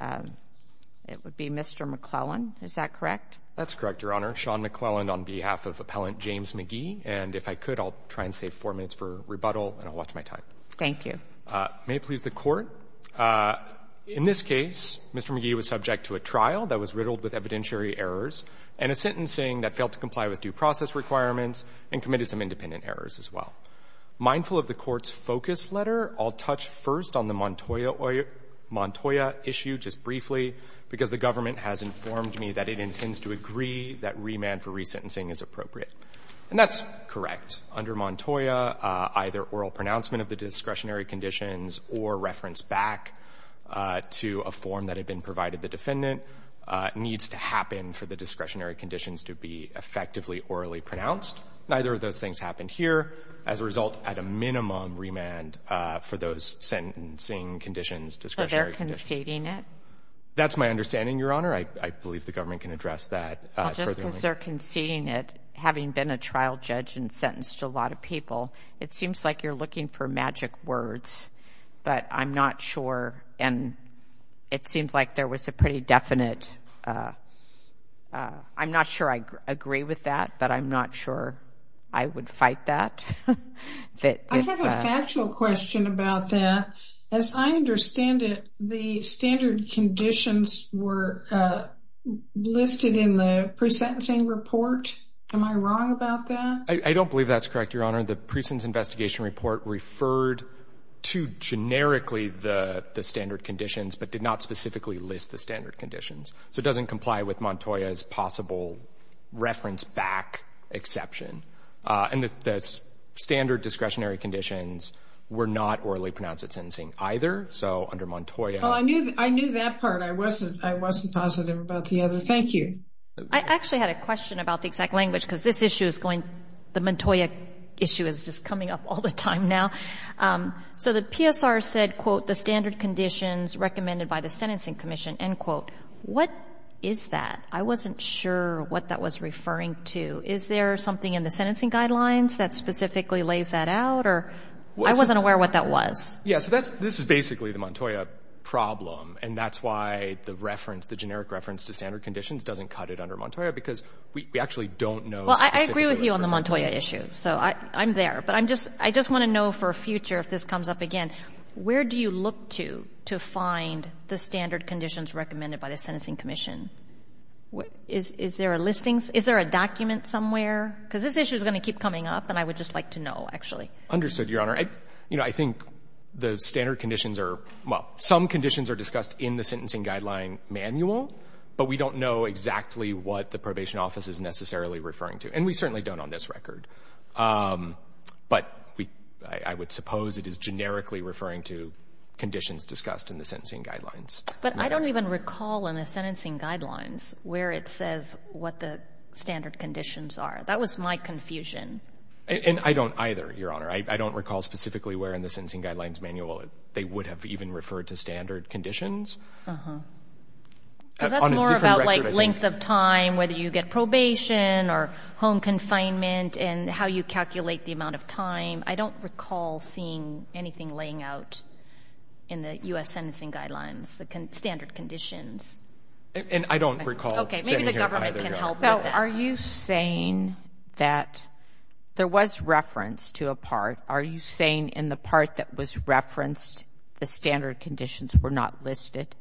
It would be Mr. McClellan. Is that correct? That's correct, Your Honor. Sean McClellan on behalf of Appellant James Magee. And if I could, I'll try and save four minutes for rebuttal, and I'll watch my time. Thank you. May it please the Court. In this case, Mr. Magee was subject to a trial that was riddled with evidentiary errors and a sentencing that failed to comply with due process requirements and committed some independent errors as well. Mindful of the Court's focus letter, I'll touch first on the Montoya issue just briefly, because the government has informed me that it intends to agree that remand for resentencing is appropriate. And that's correct. Under Montoya, either oral pronouncement of the discretionary conditions or reference back to a form that had been provided the defendant needs to happen for the discretionary conditions to be effectively orally pronounced. Neither of those things happened here. As a result, at a minimum, remand for those sentencing conditions, discretionary conditions. So they're conceding it? That's my understanding, Your Honor. I believe the government can address that further. Well, just because they're conceding it, having been a trial judge and sentenced a lot of people, it seems like you're looking for magic words. But I'm not sure, and it seems like there was a pretty definite— I'm not sure I agree with that, but I'm not sure I would fight that. I have a factual question about that. As I understand it, the standard conditions were listed in the pre-sentencing report. Am I wrong about that? I don't believe that's correct, Your Honor. The pre-sentence investigation report referred to generically the standard conditions but did not specifically list the standard conditions. So it doesn't comply with Montoya's possible reference back exception. And the standard discretionary conditions were not orally pronounced at sentencing either. So under Montoya— Well, I knew that part. I wasn't positive about the other. Thank you. I actually had a question about the exact language because this issue is going— the Montoya issue is just coming up all the time now. So the PSR said, quote, recommended by the Sentencing Commission, end quote. What is that? I wasn't sure what that was referring to. Is there something in the sentencing guidelines that specifically lays that out? I wasn't aware what that was. Yeah, so this is basically the Montoya problem, and that's why the reference, the generic reference to standard conditions, doesn't cut it under Montoya because we actually don't know specifically— Well, I agree with you on the Montoya issue, so I'm there. But I just want to know for a future, if this comes up again, where do you look to to find the standard conditions recommended by the Sentencing Commission? Is there a listing? Is there a document somewhere? Because this issue is going to keep coming up, and I would just like to know, actually. Understood, Your Honor. You know, I think the standard conditions are— well, some conditions are discussed in the sentencing guideline manual, but we don't know exactly what the probation office is necessarily referring to. And we certainly don't on this record. But I would suppose it is generically referring to conditions discussed in the sentencing guidelines. But I don't even recall in the sentencing guidelines where it says what the standard conditions are. That was my confusion. And I don't either, Your Honor. I don't recall specifically where in the sentencing guidelines manual they would have even referred to standard conditions. Uh-huh. Because that's more about length of time, whether you get probation or home confinement and how you calculate the amount of time. I don't recall seeing anything laying out in the U.S. sentencing guidelines, the standard conditions. And I don't recall— Okay, maybe the government can help with that. So are you saying that there was reference to a part? Are you saying in the part that was referenced the standard conditions were not listed?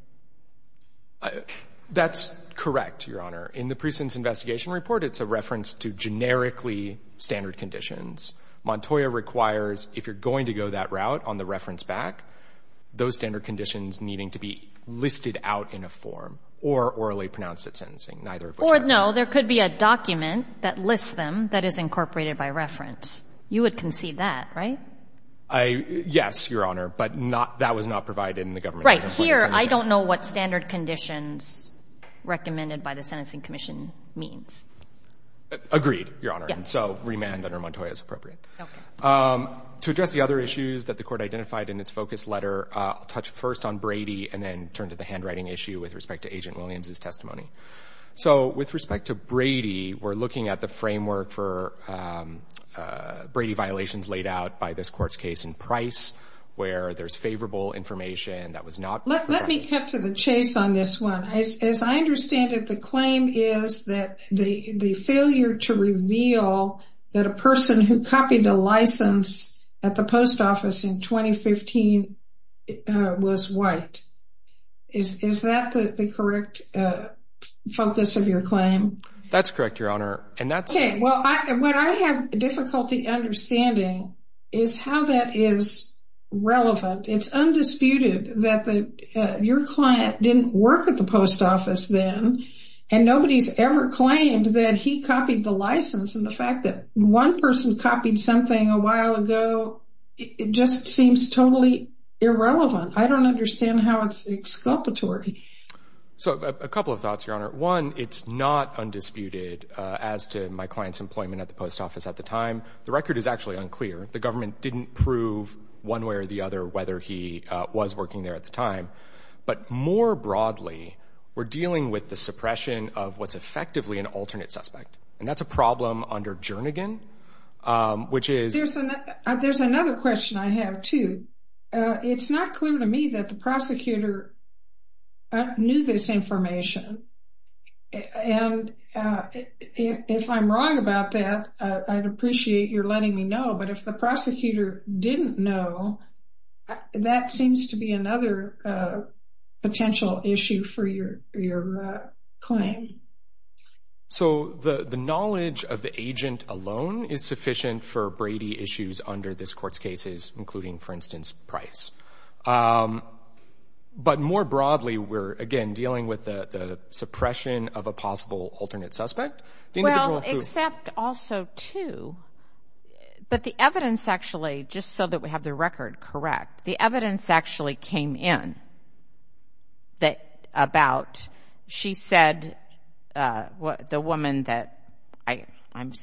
That's correct, Your Honor. In the Precincts Investigation Report, it's a reference to generically standard conditions. Montoya requires if you're going to go that route on the reference back, those standard conditions needing to be listed out in a form or orally pronounced at sentencing. Neither of which I recall. Or, no, there could be a document that lists them that is incorporated by reference. You would concede that, right? Yes, Your Honor. But that was not provided in the government's report. Right. Here, I don't know what standard conditions recommended by the Sentencing Commission means. Agreed, Your Honor. And so remand under Montoya is appropriate. Okay. To address the other issues that the Court identified in its focus letter, I'll touch first on Brady and then turn to the handwriting issue with respect to Agent Williams' testimony. So with respect to Brady, we're looking at the framework for Brady violations laid out by this Court's case in Price, where there's favorable information that was not provided. Let me cut to the chase on this one. As I understand it, the claim is that the failure to reveal that a person who copied a license at the post office in 2015 was white. Is that the correct focus of your claim? That's correct, Your Honor. What I have difficulty understanding is how that is relevant. It's undisputed that your client didn't work at the post office then, and nobody's ever claimed that he copied the license. And the fact that one person copied something a while ago just seems totally irrelevant. I don't understand how it's exculpatory. So a couple of thoughts, Your Honor. One, it's not undisputed as to my client's employment at the post office at the time. The record is actually unclear. The government didn't prove one way or the other whether he was working there at the time. But more broadly, we're dealing with the suppression of what's effectively an alternate suspect, and that's a problem under Jernigan, which is— There's another question I have, too. It's not clear to me that the prosecutor knew this information. And if I'm wrong about that, I'd appreciate your letting me know. But if the prosecutor didn't know, that seems to be another potential issue for your claim. So the knowledge of the agent alone is sufficient for Brady issues under this court's cases, including, for instance, Price. But more broadly, we're, again, dealing with the suppression of a possible alternate suspect. Well, except also two. But the evidence actually, just so that we have the record correct, the evidence actually came in about— The woman that—I'm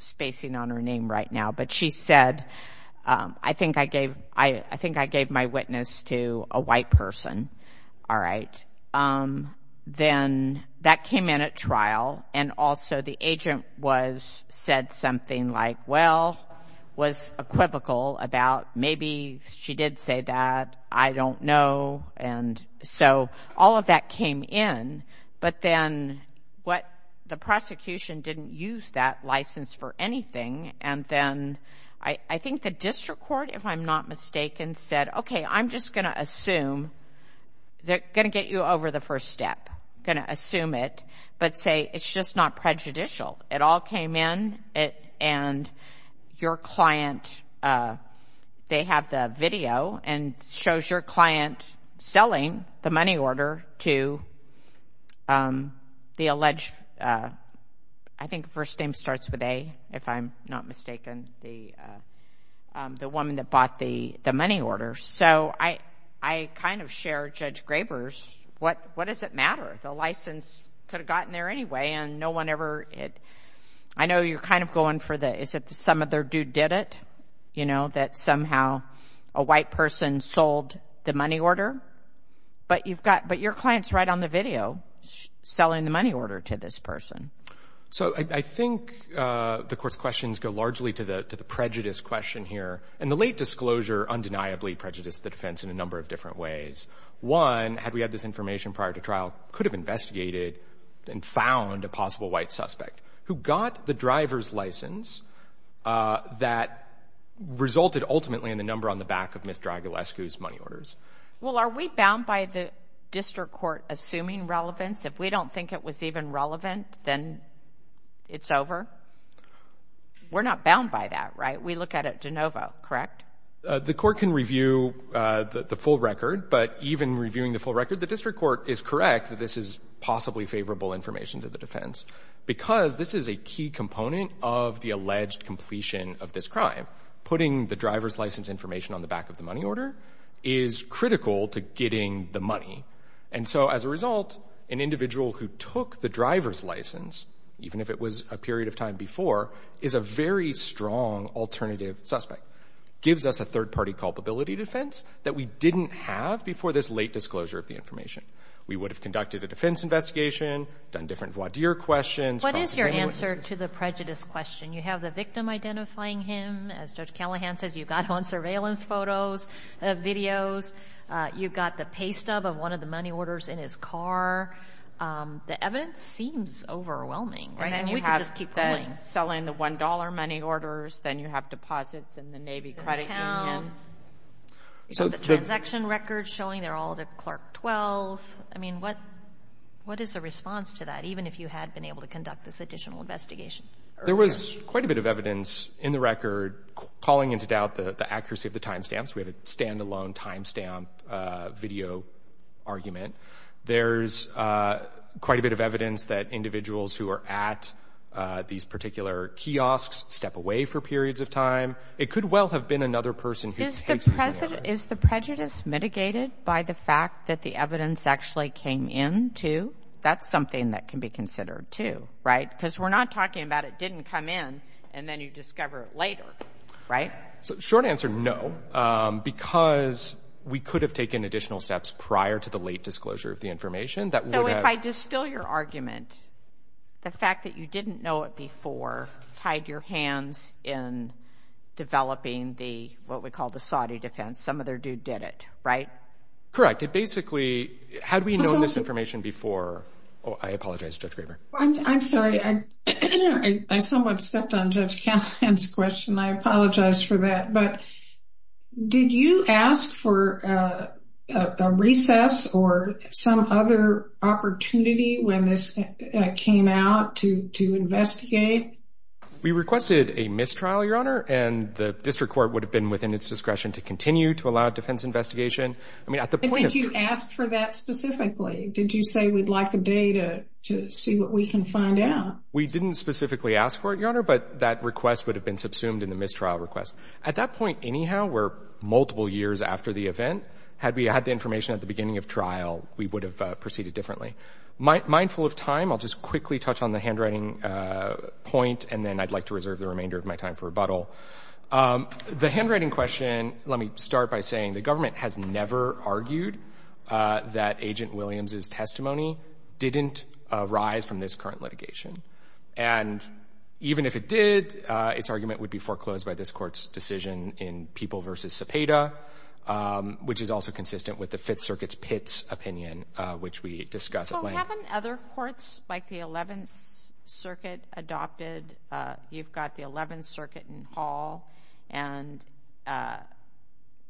spacing on her name right now. But she said, I think I gave my witness to a white person. All right. Then that came in at trial, and also the agent said something like, well, was equivocal about maybe she did say that. I don't know. And so all of that came in. But then what—the prosecution didn't use that license for anything. And then I think the district court, if I'm not mistaken, said, okay, I'm just going to assume—they're going to get you over the first step. I'm going to assume it, but say it's just not prejudicial. It all came in. And your client, they have the video, and it shows your client selling the money order to the alleged— I think the first name starts with A, if I'm not mistaken, the woman that bought the money order. So I kind of share Judge Graber's, what does it matter? The license could have gotten there anyway, and no one ever— I know you're kind of going for the, is it some other dude did it? You know, that somehow a white person sold the money order. But you've got—but your client's right on the video selling the money order to this person. So I think the court's questions go largely to the prejudice question here. And the late disclosure undeniably prejudiced the defense in a number of different ways. One, had we had this information prior to trial, could have investigated and found a possible white suspect who got the driver's license that resulted ultimately in the number on the back of Ms. Dragulescu's money orders? Well, are we bound by the district court assuming relevance? If we don't think it was even relevant, then it's over? We're not bound by that, right? We look at it de novo, correct? The court can review the full record, but even reviewing the full record, the district court is correct that this is possibly favorable information to the defense because this is a key component of the alleged completion of this crime. Putting the driver's license information on the back of the money order is critical to getting the money. And so as a result, an individual who took the driver's license, even if it was a period of time before, is a very strong alternative suspect. Gives us a third-party culpability defense that we didn't have before this late disclosure of the information. We would have conducted a defense investigation, done different voir dire questions. What is your answer to the prejudice question? You have the victim identifying him. As Judge Callahan says, you've got surveillance photos, videos. You've got the pay stub of one of the money orders in his car. The evidence seems overwhelming. And then you have them selling the $1 money orders. Then you have deposits in the Navy credit union. You've got the transaction records showing they're all to Clark 12. I mean, what is the response to that, even if you had been able to conduct this additional investigation? There was quite a bit of evidence in the record calling into doubt the accuracy of the timestamps. We had a standalone timestamp video argument. There's quite a bit of evidence that individuals who are at these particular kiosks step away for periods of time. It could well have been another person who takes these money orders. Is the prejudice mitigated by the fact that the evidence actually came in, too? That's something that can be considered, too, right? Because we're not talking about it didn't come in and then you discover it later, right? Short answer, no, because we could have taken additional steps prior to the late disclosure of the information. So if I distill your argument, the fact that you didn't know it before tied your hands in developing what we call the Saudi defense. Some other dude did it, right? It basically had we known this information before. I apologize, Judge Graber. I'm sorry. I somewhat stepped on Judge Kavanaugh's question. I apologize for that. Did you ask for a recess or some other opportunity when this came out to investigate? We requested a mistrial, Your Honor, and the district court would have been within its discretion to continue to allow defense investigation. Did you ask for that specifically? Did you say we'd like a day to see what we can find out? We didn't specifically ask for it, Your Honor, but that request would have been subsumed in the mistrial request. At that point, anyhow, we're multiple years after the event. Had we had the information at the beginning of trial, we would have proceeded differently. Mindful of time, I'll just quickly touch on the handwriting point, and then I'd like to reserve the remainder of my time for rebuttal. The handwriting question, let me start by saying the government has never argued that Agent Williams' testimony didn't arise from this current litigation. And even if it did, its argument would be foreclosed by this court's decision in People v. Cepeda, which is also consistent with the Fifth Circuit's Pitts opinion, which we discussed at length. So haven't other courts, like the Eleventh Circuit, adopted— you've got the Eleventh Circuit in Hall, and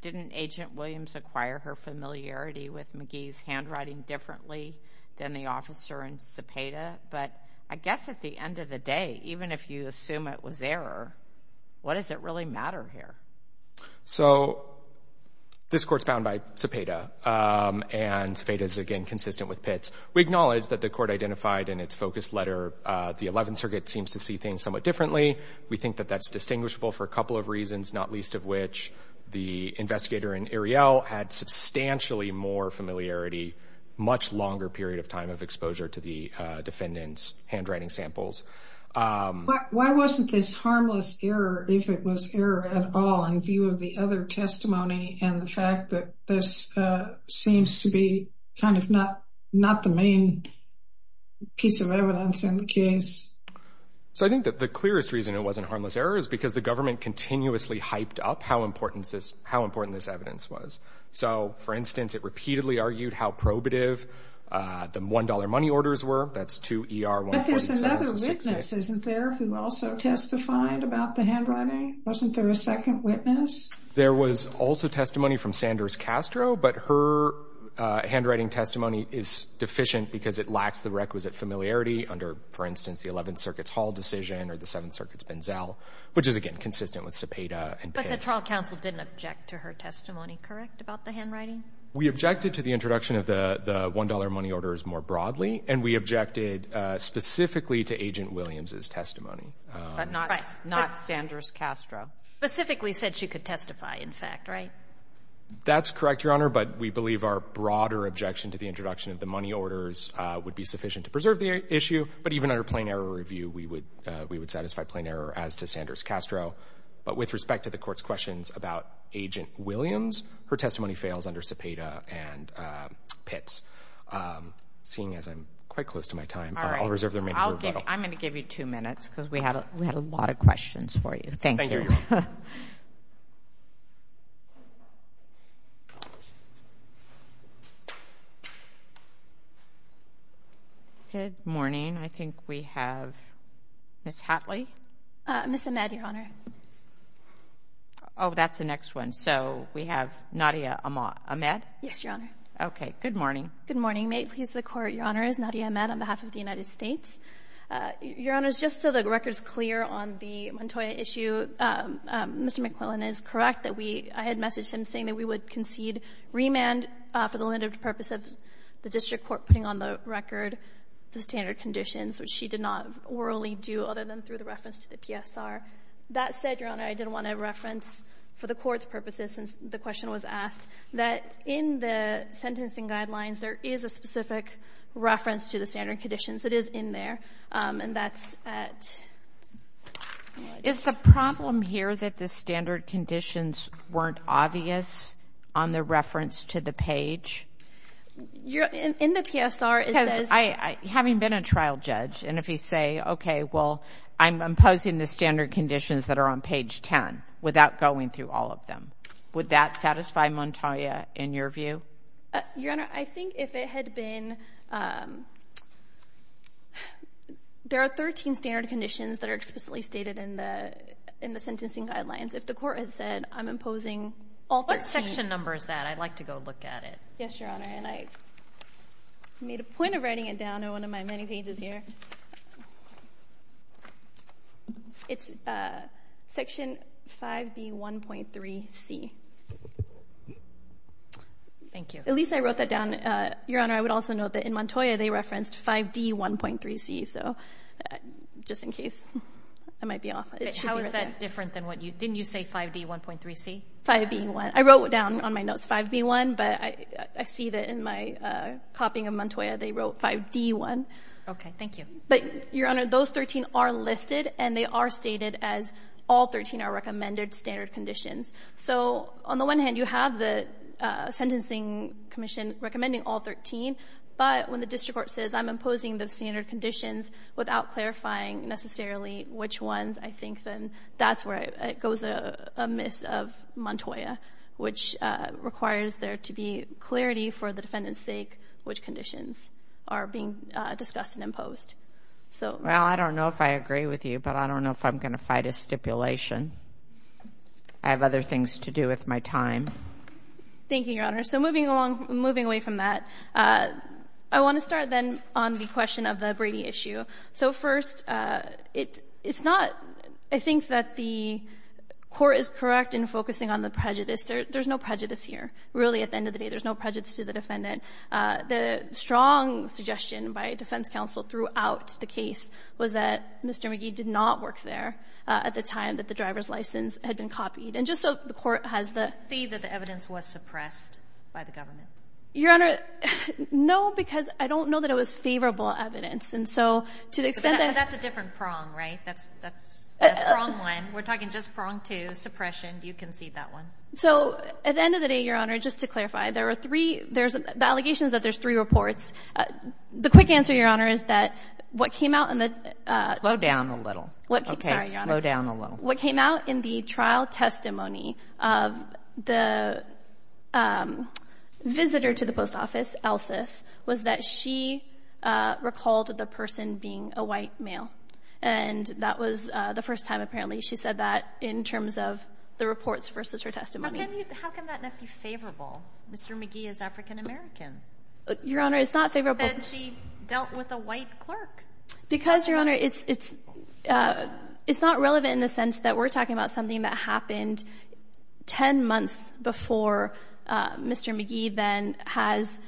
didn't Agent Williams acquire her familiarity with McGee's handwriting differently than the officer in Cepeda? But I guess at the end of the day, even if you assume it was error, what does it really matter here? So this court's bound by Cepeda, and Cepeda is, again, consistent with Pitts. We acknowledge that the court identified in its focus letter the Eleventh Circuit seems to see things somewhat differently. We think that that's distinguishable for a couple of reasons, not least of which the investigator in Ariel had substantially more familiarity, much longer period of time of exposure to the defendant's handwriting samples. Why wasn't this harmless error, if it was error at all, in view of the other testimony and the fact that this seems to be kind of not the main piece of evidence in the case? So I think that the clearest reason it wasn't harmless error is because the government continuously hyped up how important this evidence was. So, for instance, it repeatedly argued how probative the $1 money orders were. That's 2 ER 147. But there's another witness, isn't there, who also testified about the handwriting? Wasn't there a second witness? There was also testimony from Sanders Castro, but her handwriting testimony is deficient because it lacks the requisite familiarity under, for instance, the Eleventh Circuit's Hall decision or the Seventh Circuit's Benzel, which is, again, consistent with Cepeda and Pitts. But the trial counsel didn't object to her testimony, correct, about the handwriting? We objected to the introduction of the $1 money orders more broadly, and we objected specifically to Agent Williams' testimony. But not Sanders Castro. Specifically said she could testify, in fact, right? That's correct, Your Honor, but we believe our broader objection to the introduction of the money orders would be sufficient to preserve the issue, but even under plain error review we would satisfy plain error as to Sanders Castro. But with respect to the Court's questions about Agent Williams, her testimony fails under Cepeda and Pitts. Seeing as I'm quite close to my time, I'll reserve the remaining time for rebuttal. All right. I'm going to give you 2 minutes because we had a lot of questions for you. Thank you. Thank you, Your Honor. Good morning. I think we have Ms. Hatley. Ms. Ahmed, Your Honor. Oh, that's the next one. So we have Nadia Ahmed? Yes, Your Honor. Okay. Good morning. Good morning. May it please the Court, Your Honors, Nadia Ahmed on behalf of the United States. Your Honors, just so the record is clear on the Montoya issue, Mr. McQuillan is correct that I had messaged him saying that we would concede remand for the limited purpose of the district court putting on the record the standard conditions, which she did not orally do other than through the reference to the PSR. That said, Your Honor, I did want to reference for the Court's purposes, since the question was asked, that in the sentencing guidelines, there is a specific reference to the standard conditions. It is in there, and that's at... Is the problem here that the standard conditions weren't obvious on the reference to the page? In the PSR, it says... Having been a trial judge, and if you say, okay, well, I'm imposing the standard conditions that are on page 10 without going through all of them, would that satisfy Montoya in your view? Your Honor, I think if it had been... There are 13 standard conditions that are explicitly stated in the sentencing guidelines. If the Court had said, I'm imposing all 13... What section number is that? I'd like to go look at it. Yes, Your Honor, and I made a point of writing it down on one of my many pages here. It's section 5B1.3C. Thank you. At least I wrote that down. Your Honor, I would also note that in Montoya, they referenced 5D1.3C, so just in case I might be off. How is that different than what you... Didn't you say 5D1.3C? 5B1. I wrote it down on my notes, 5B1, but I see that in my copying of Montoya, they wrote 5D1. Okay, thank you. But, Your Honor, those 13 are listed, and they are stated as all 13 are recommended standard conditions. So on the one hand, you have the Sentencing Commission recommending all 13, but when the district court says, I'm imposing the standard conditions without clarifying necessarily which ones, I think then that's where it goes amiss of Montoya, which requires there to be clarity for the defendant's sake which conditions are being discussed and imposed. Well, I don't know if I agree with you, but I don't know if I'm going to fight a stipulation. I have other things to do with my time. Thank you, Your Honor. So moving away from that, I want to start then on the question of the Brady issue. So first, it's not, I think that the court is correct in focusing on the prejudice. There's no prejudice here. Really, at the end of the day, there's no prejudice to the defendant. The strong suggestion by defense counsel throughout the case was that Mr. McGee did not work there at the time that the driver's license had been copied, and just so the court has the See that the evidence was suppressed by the government. Your Honor, no, because I don't know that it was favorable evidence. And so to the extent that But that's a different prong, right? That's prong one. We're talking just prong two, suppression. Do you concede that one? So at the end of the day, Your Honor, just to clarify, there are three, there's allegations that there's three reports. The quick answer, Your Honor, is that what came out in the Slow down a little. Okay, slow down a little. What came out in the trial testimony of the visitor to the post office, Elsis, was that she recalled the person being a white male. And that was the first time, apparently, she said that in terms of the reports versus her testimony. How can that not be favorable? Mr. McGee is African American. Your Honor, it's not favorable. She said she dealt with a white clerk. Because, Your Honor, it's not relevant in the sense that we're talking about something that happened 10 months before Mr. McGee then has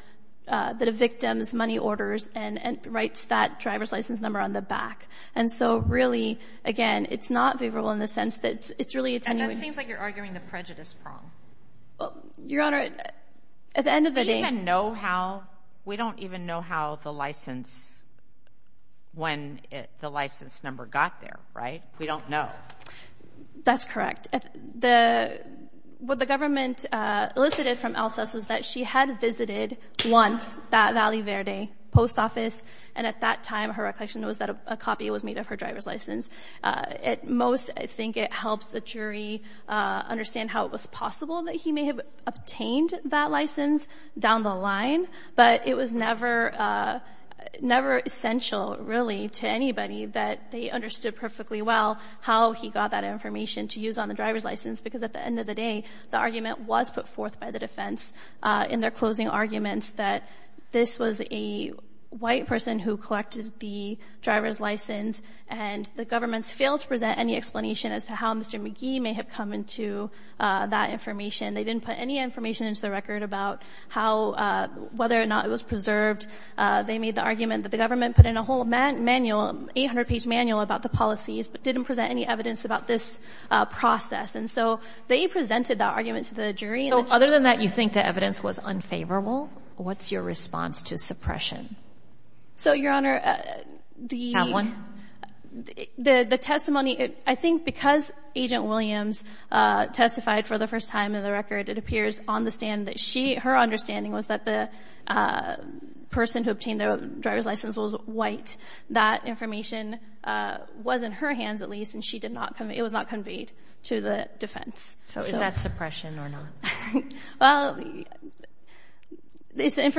the victim's money orders and writes that driver's license number on the back. And so really, again, it's not favorable in the sense that it's really attenuating. And that seems like you're arguing the prejudice prong. Your Honor, at the end of the day We don't even know how the license, when the license number got there, right? We don't know. That's correct. What the government elicited from Elsis was that she had visited once that Valley Verde post office, and at that time her recollection was that a copy was made of her driver's license. At most, I think it helps the jury understand how it was possible that he may have obtained that license down the line, but it was never essential, really, to anybody that they understood perfectly well how he got that information to use on the driver's license. Because at the end of the day, the argument was put forth by the defense in their closing arguments that this was a white person who collected the driver's license, and the government failed to present any explanation as to how Mr. McGee may have come into that information. They didn't put any information into the record about whether or not it was preserved. They made the argument that the government put in a whole manual, an 800-page manual about the policies, but didn't present any evidence about this process. And so they presented that argument to the jury. So other than that, you think the evidence was unfavorable? What's your response to suppression? So, Your Honor, the testimony, I think because Agent Williams testified for the first time in the record, it appears on the stand that her understanding was that the person who obtained the driver's license was white. That information was in her hands, at least, and it was not conveyed to the defense. So is that suppression or not? Well,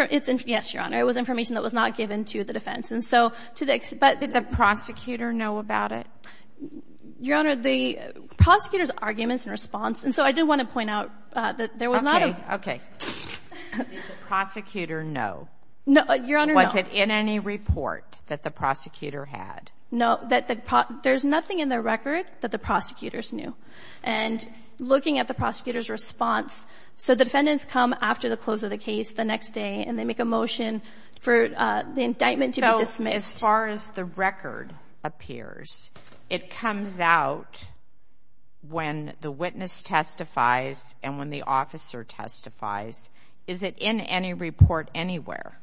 yes, Your Honor. It was information that was not given to the defense. Did the prosecutor know about it? Your Honor, the prosecutor's arguments and response, and so I did want to point out that there was not a... Okay, okay. Did the prosecutor know? No, Your Honor, no. Was it in any report that the prosecutor had? No, there's nothing in the record that the prosecutors knew. And looking at the prosecutor's response, so defendants come after the close of the case the next day and they make a motion for the indictment to be dismissed. As far as the record appears, it comes out when the witness testifies and when the officer testifies. Is it in any report anywhere?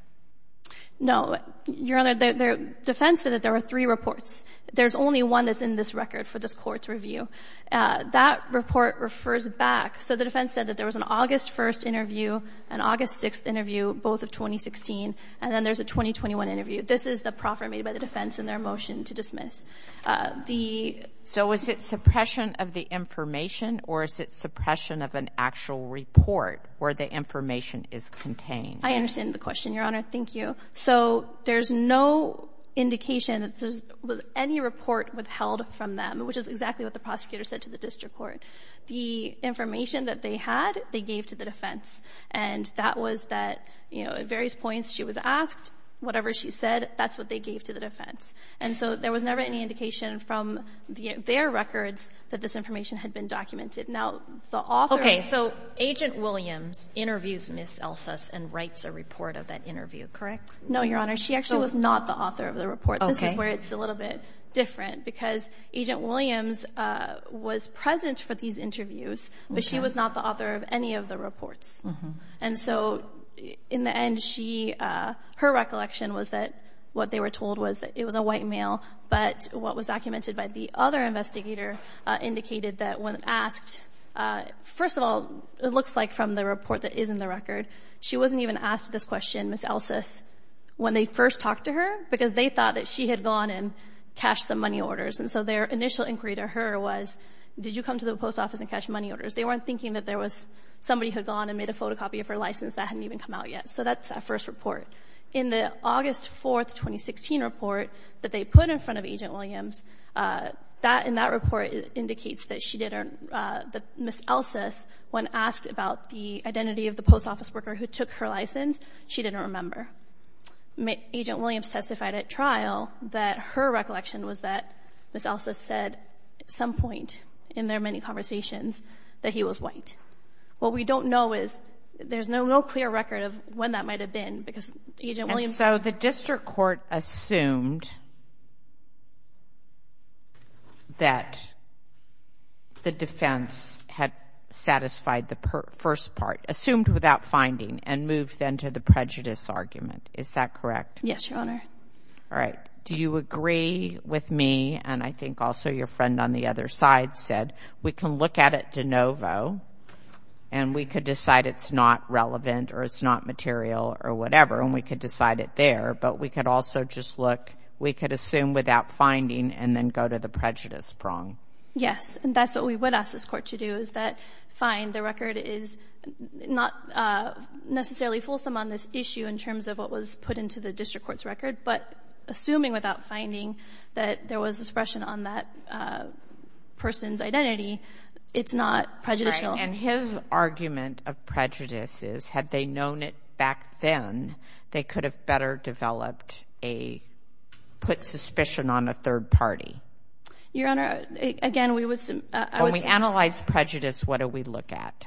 No. Your Honor, the defense said that there were three reports. There's only one that's in this record for this court's review. That report refers back. So the defense said that there was an August 1st interview, an August 6th interview, both of 2016, and then there's a 2021 interview. This is the proffer made by the defense in their motion to dismiss. So is it suppression of the information or is it suppression of an actual report where the information is contained? I understand the question, Your Honor. Thank you. So there's no indication that there was any report withheld from them, which is exactly what the prosecutor said to the district court. The information that they had they gave to the defense, and that was that at various points she was asked whatever she said, that's what they gave to the defense. And so there was never any indication from their records that this information had been documented. Okay, so Agent Williams interviews Ms. Elsus and writes a report of that interview, correct? No, Your Honor. She actually was not the author of the report. This is where it's a little bit different because Agent Williams was present for these interviews, but she was not the author of any of the reports. And so in the end, her recollection was that what they were told was that it was a white male, but what was documented by the other investigator indicated that when asked, first of all, it looks like from the report that is in the record, she wasn't even asked this question, Ms. Elsus, when they first talked to her because they thought that she had gone and cashed the money orders. And so their initial inquiry to her was, did you come to the post office and cash money orders? They weren't thinking that there was somebody who had gone and made a photocopy of her license that hadn't even come out yet. So that's that first report. In the August 4, 2016 report that they put in front of Agent Williams, in that report it indicates that Ms. Elsus, when asked about the identity of the post office worker who took her license, she didn't remember. Agent Williams testified at trial that her recollection was that Ms. Elsus said, at some point in their many conversations, that he was white. What we don't know is, there's no clear record of when that might have been because Agent Williams... And so the district court assumed that the defense had satisfied the first part, assumed without finding, and moved then to the prejudice argument. Is that correct? Yes, Your Honor. All right. Do you agree with me, and I think also your friend on the other side said, we can look at it de novo, and we could decide it's not relevant or it's not material or whatever, and we could decide it there, but we could also just look, we could assume without finding, and then go to the prejudice prong. Yes, and that's what we would ask this court to do is that, fine, the record is not necessarily fulsome on this issue in terms of what was put into the district court's record, but assuming without finding that there was expression on that person's identity, it's not prejudicial. And his argument of prejudice is, had they known it back then, they could have better developed a, put suspicion on a third party. Your Honor, again, we would... When we analyze prejudice, what do we look at?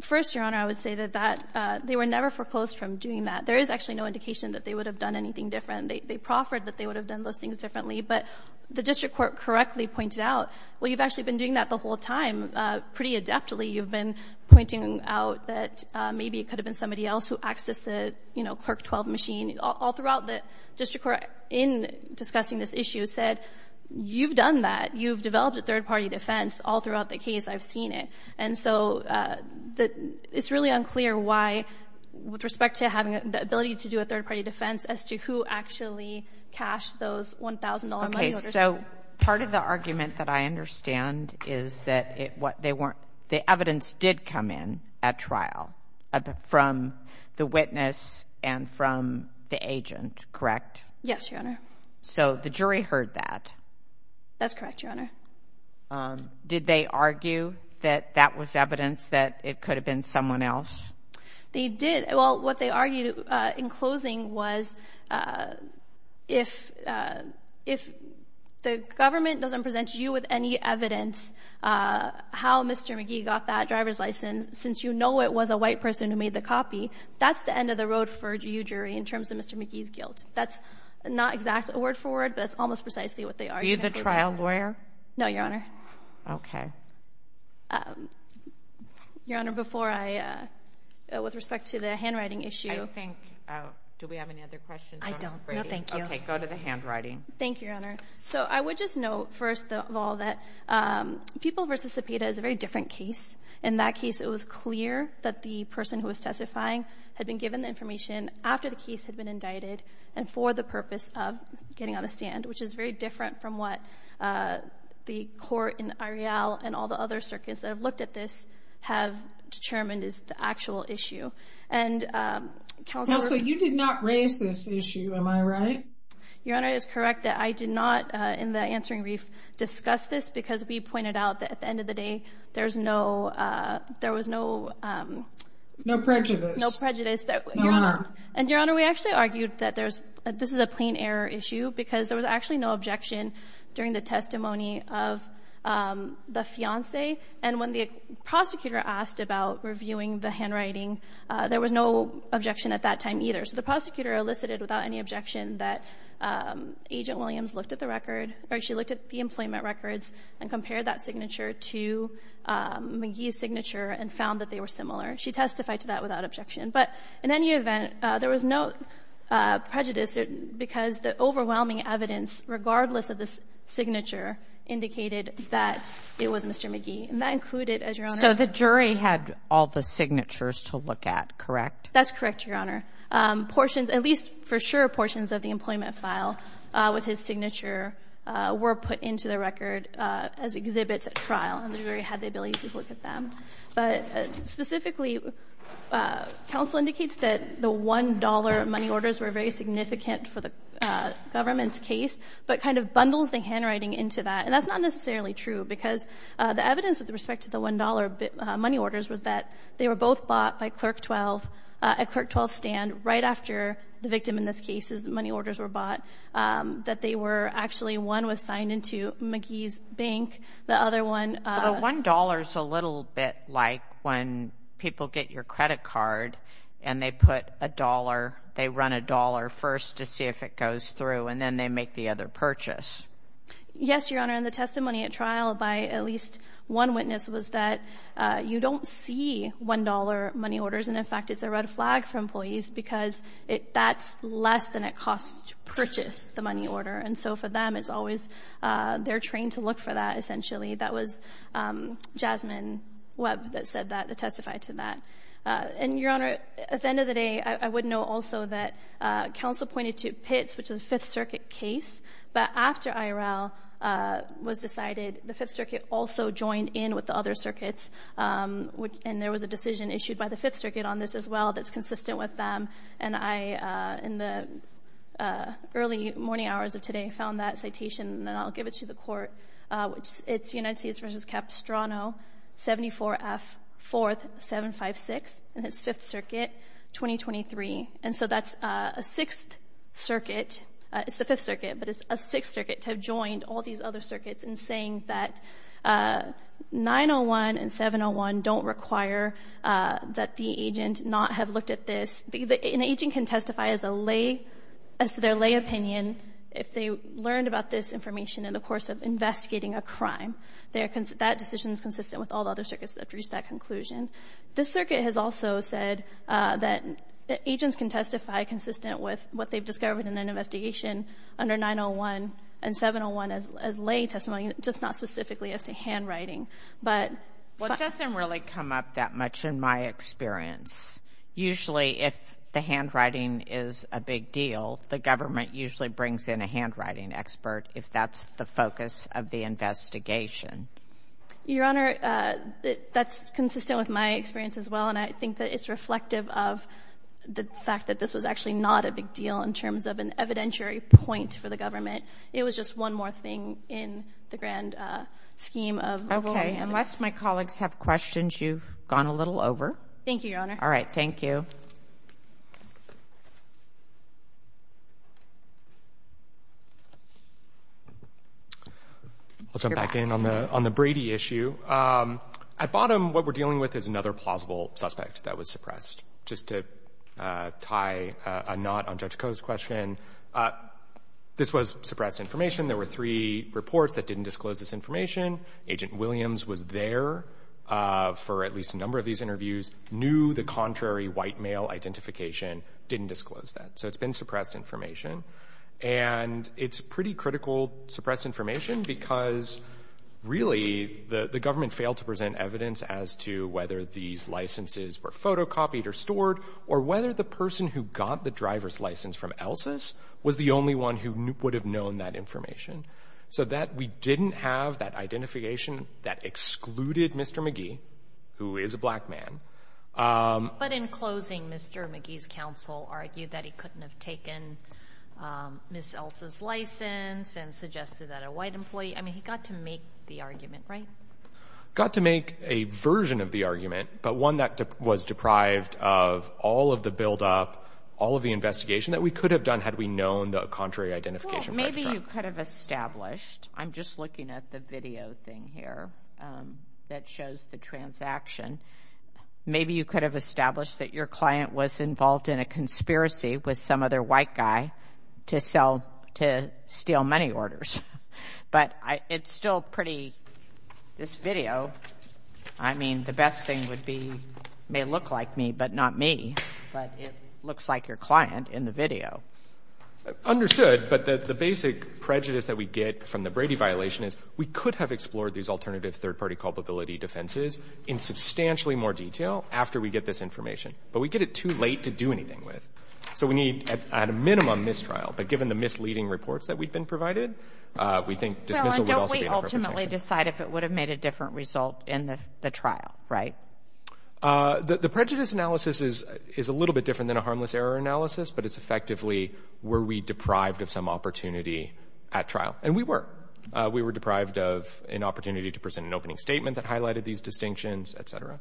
First, Your Honor, I would say that they were never foreclosed from doing that. There is actually no indication that they would have done anything different. They proffered that they would have done those things differently, but the district court correctly pointed out, well, you've actually been doing that the whole time pretty adeptly. You've been pointing out that maybe it could have been somebody else who accessed the, you know, Clerk 12 machine. All throughout the district court in discussing this issue said, you've done that. You've developed a third party defense all throughout the case. I've seen it. And so it's really unclear why, with respect to having the ability to do a third party defense, as to who actually cashed those $1,000 money orders. So part of the argument that I understand is that what they weren't, the evidence did come in at trial from the witness and from the agent. Correct? Yes, Your Honor. So the jury heard that. That's correct, Your Honor. Did they argue that that was evidence that it could have been someone else? They did. Well, what they argued in closing was if the government doesn't present you with any evidence how Mr. McGee got that driver's license, since you know it was a white person who made the copy, that's the end of the road for you, jury, in terms of Mr. McGee's guilt. That's not exactly a word for word, but it's almost precisely what they argued. Are you the trial lawyer? No, Your Honor. Okay. Your Honor, before I, with respect to the handwriting issue. I think, do we have any other questions? I don't. No, thank you. Okay, go to the handwriting. Thank you, Your Honor. So I would just note, first of all, that People v. Cepeda is a very different case. In that case, it was clear that the person who was testifying had been given the information after the case had been indicted and for the purpose of getting on the stand, which is very different from what the court in Arial and all the other circuits that have looked at this have determined is the actual issue. And Calgary... Counsel, you did not raise this issue, am I right? Your Honor, it is correct that I did not, in the answering brief, discuss this because we pointed out that at the end of the day, there was no... No prejudice. No prejudice. Your Honor. And, Your Honor, we actually argued that this is a plain error issue because there was actually no objection during the testimony of the fiancé. And when the prosecutor asked about reviewing the handwriting, there was no objection at that time either. So the prosecutor elicited without any objection that Agent Williams looked at the record, or she looked at the employment records and compared that signature to McGee's signature and found that they were similar. She testified to that without objection. But in any event, there was no prejudice because the overwhelming evidence, regardless of the signature, indicated that it was Mr. McGee. And that included, as Your Honor... So the jury had all the signatures to look at, correct? That's correct, Your Honor. Portions, at least for sure, portions of the employment file with his signature were put into the record as exhibits at trial, and the jury had the ability to look at them. But specifically, counsel indicates that the $1 money orders were very significant for the government's case, but kind of bundles the handwriting into that. And that's not necessarily true because the evidence with respect to the $1 money orders was that they were both bought by Clerk 12 at Clerk 12's stand right after the victim in this case's money orders were bought, that they were actually one was signed into McGee's bank, the other one... The $1 is a little bit like when people get your credit card and they put a dollar, they run a dollar first to see if it goes through, and then they make the other purchase. Yes, Your Honor, and the testimony at trial by at least one witness was that you don't see $1 money orders, and in fact it's a red flag for employees because that's less than it costs to purchase the money order. And so for them, it's always... They're trained to look for that, essentially. That was Jasmine Webb that testified to that. And, Your Honor, at the end of the day, I would note also that counsel pointed to Pitts, which is a Fifth Circuit case, but after IRL was decided, the Fifth Circuit also joined in with the other circuits, and there was a decision issued by the Fifth Circuit on this as well that's consistent with them. And I, in the early morning hours of today, found that citation, and I'll give it to the court. It's United States v. Capistrano, 74F, 4th, 756, and it's Fifth Circuit, 2023. And so that's a Sixth Circuit. It's the Fifth Circuit, but it's a Sixth Circuit to have joined all these other circuits in saying that 901 and 701 don't require that the agent not have looked at this. An agent can testify as to their lay opinion if they learned about this information in the course of investigating a crime. That decision is consistent with all the other circuits that have reached that conclusion. This circuit has also said that agents can testify consistent with what they've discovered in an investigation under 901 and 701 as lay testimony, just not specifically as to handwriting. Well, it doesn't really come up that much in my experience. Usually, if the handwriting is a big deal, the government usually brings in a handwriting expert if that's the focus of the investigation. Your Honor, that's consistent with my experience as well, and I think that it's reflective of the fact that this was actually not a big deal in terms of an evidentiary point for the government. It was just one more thing in the grand scheme of rulings. Okay. Unless my colleagues have questions, you've gone a little over. Thank you, Your Honor. All right, thank you. I'll jump back in on the Brady issue. At bottom, what we're dealing with is another plausible suspect that was suppressed. Just to tie a knot on Judge Koh's question, this was suppressed information. There were three reports that didn't disclose this information. Agent Williams was there for at least a number of these interviews, knew the contrary white male identification, didn't disclose that. So it's been suppressed information. And it's pretty critical suppressed information because, really, the government failed to present evidence as to whether these licenses were photocopied or stored or whether the person who got the driver's license from Elsus was the only one who would have known that information. So that we didn't have that identification that excluded Mr. McGee, who is a black man. But in closing, Mr. McGee's counsel argued that he couldn't have taken Ms. Elsus' license and suggested that a white employee... I mean, he got to make the argument, right? Got to make a version of the argument, but one that was deprived of all of the buildup, all of the investigation that we could have done had we known the contrary identification. Well, maybe you could have established... I'm just looking at the video thing here that shows the transaction. Maybe you could have established that your client was involved in a conspiracy with some other white guy to sell... to steal money orders. But it's still pretty... This video, I mean, the best thing would be... may look like me, but not me. But it looks like your client in the video. Understood. But the basic prejudice that we get from the Brady violation is we could have explored these alternative third-party culpability defenses in substantially more detail after we get this information. But we get it too late to do anything with. So we need, at a minimum, mistrial. But given the misleading reports that we've been provided, we think dismissal would also be... Don't we ultimately decide if it would have made a different result in the trial, right? The prejudice analysis is a little bit different than a harmless error analysis, but it's effectively, were we deprived of some opportunity at trial? And we were. We were deprived of an opportunity to present an opening statement that highlighted these distinctions, et cetera.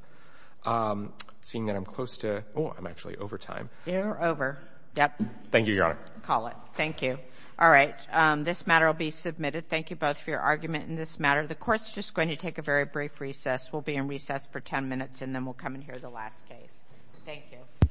Seeing that I'm close to... Oh, I'm actually over time. You're over. Yep. Thank you, Your Honor. Call it. Thank you. All right, this matter will be submitted. Thank you both for your argument in this matter. The court's just going to take a very brief recess. We'll be in recess for 10 minutes, and then we'll come and hear the last case. Thank you.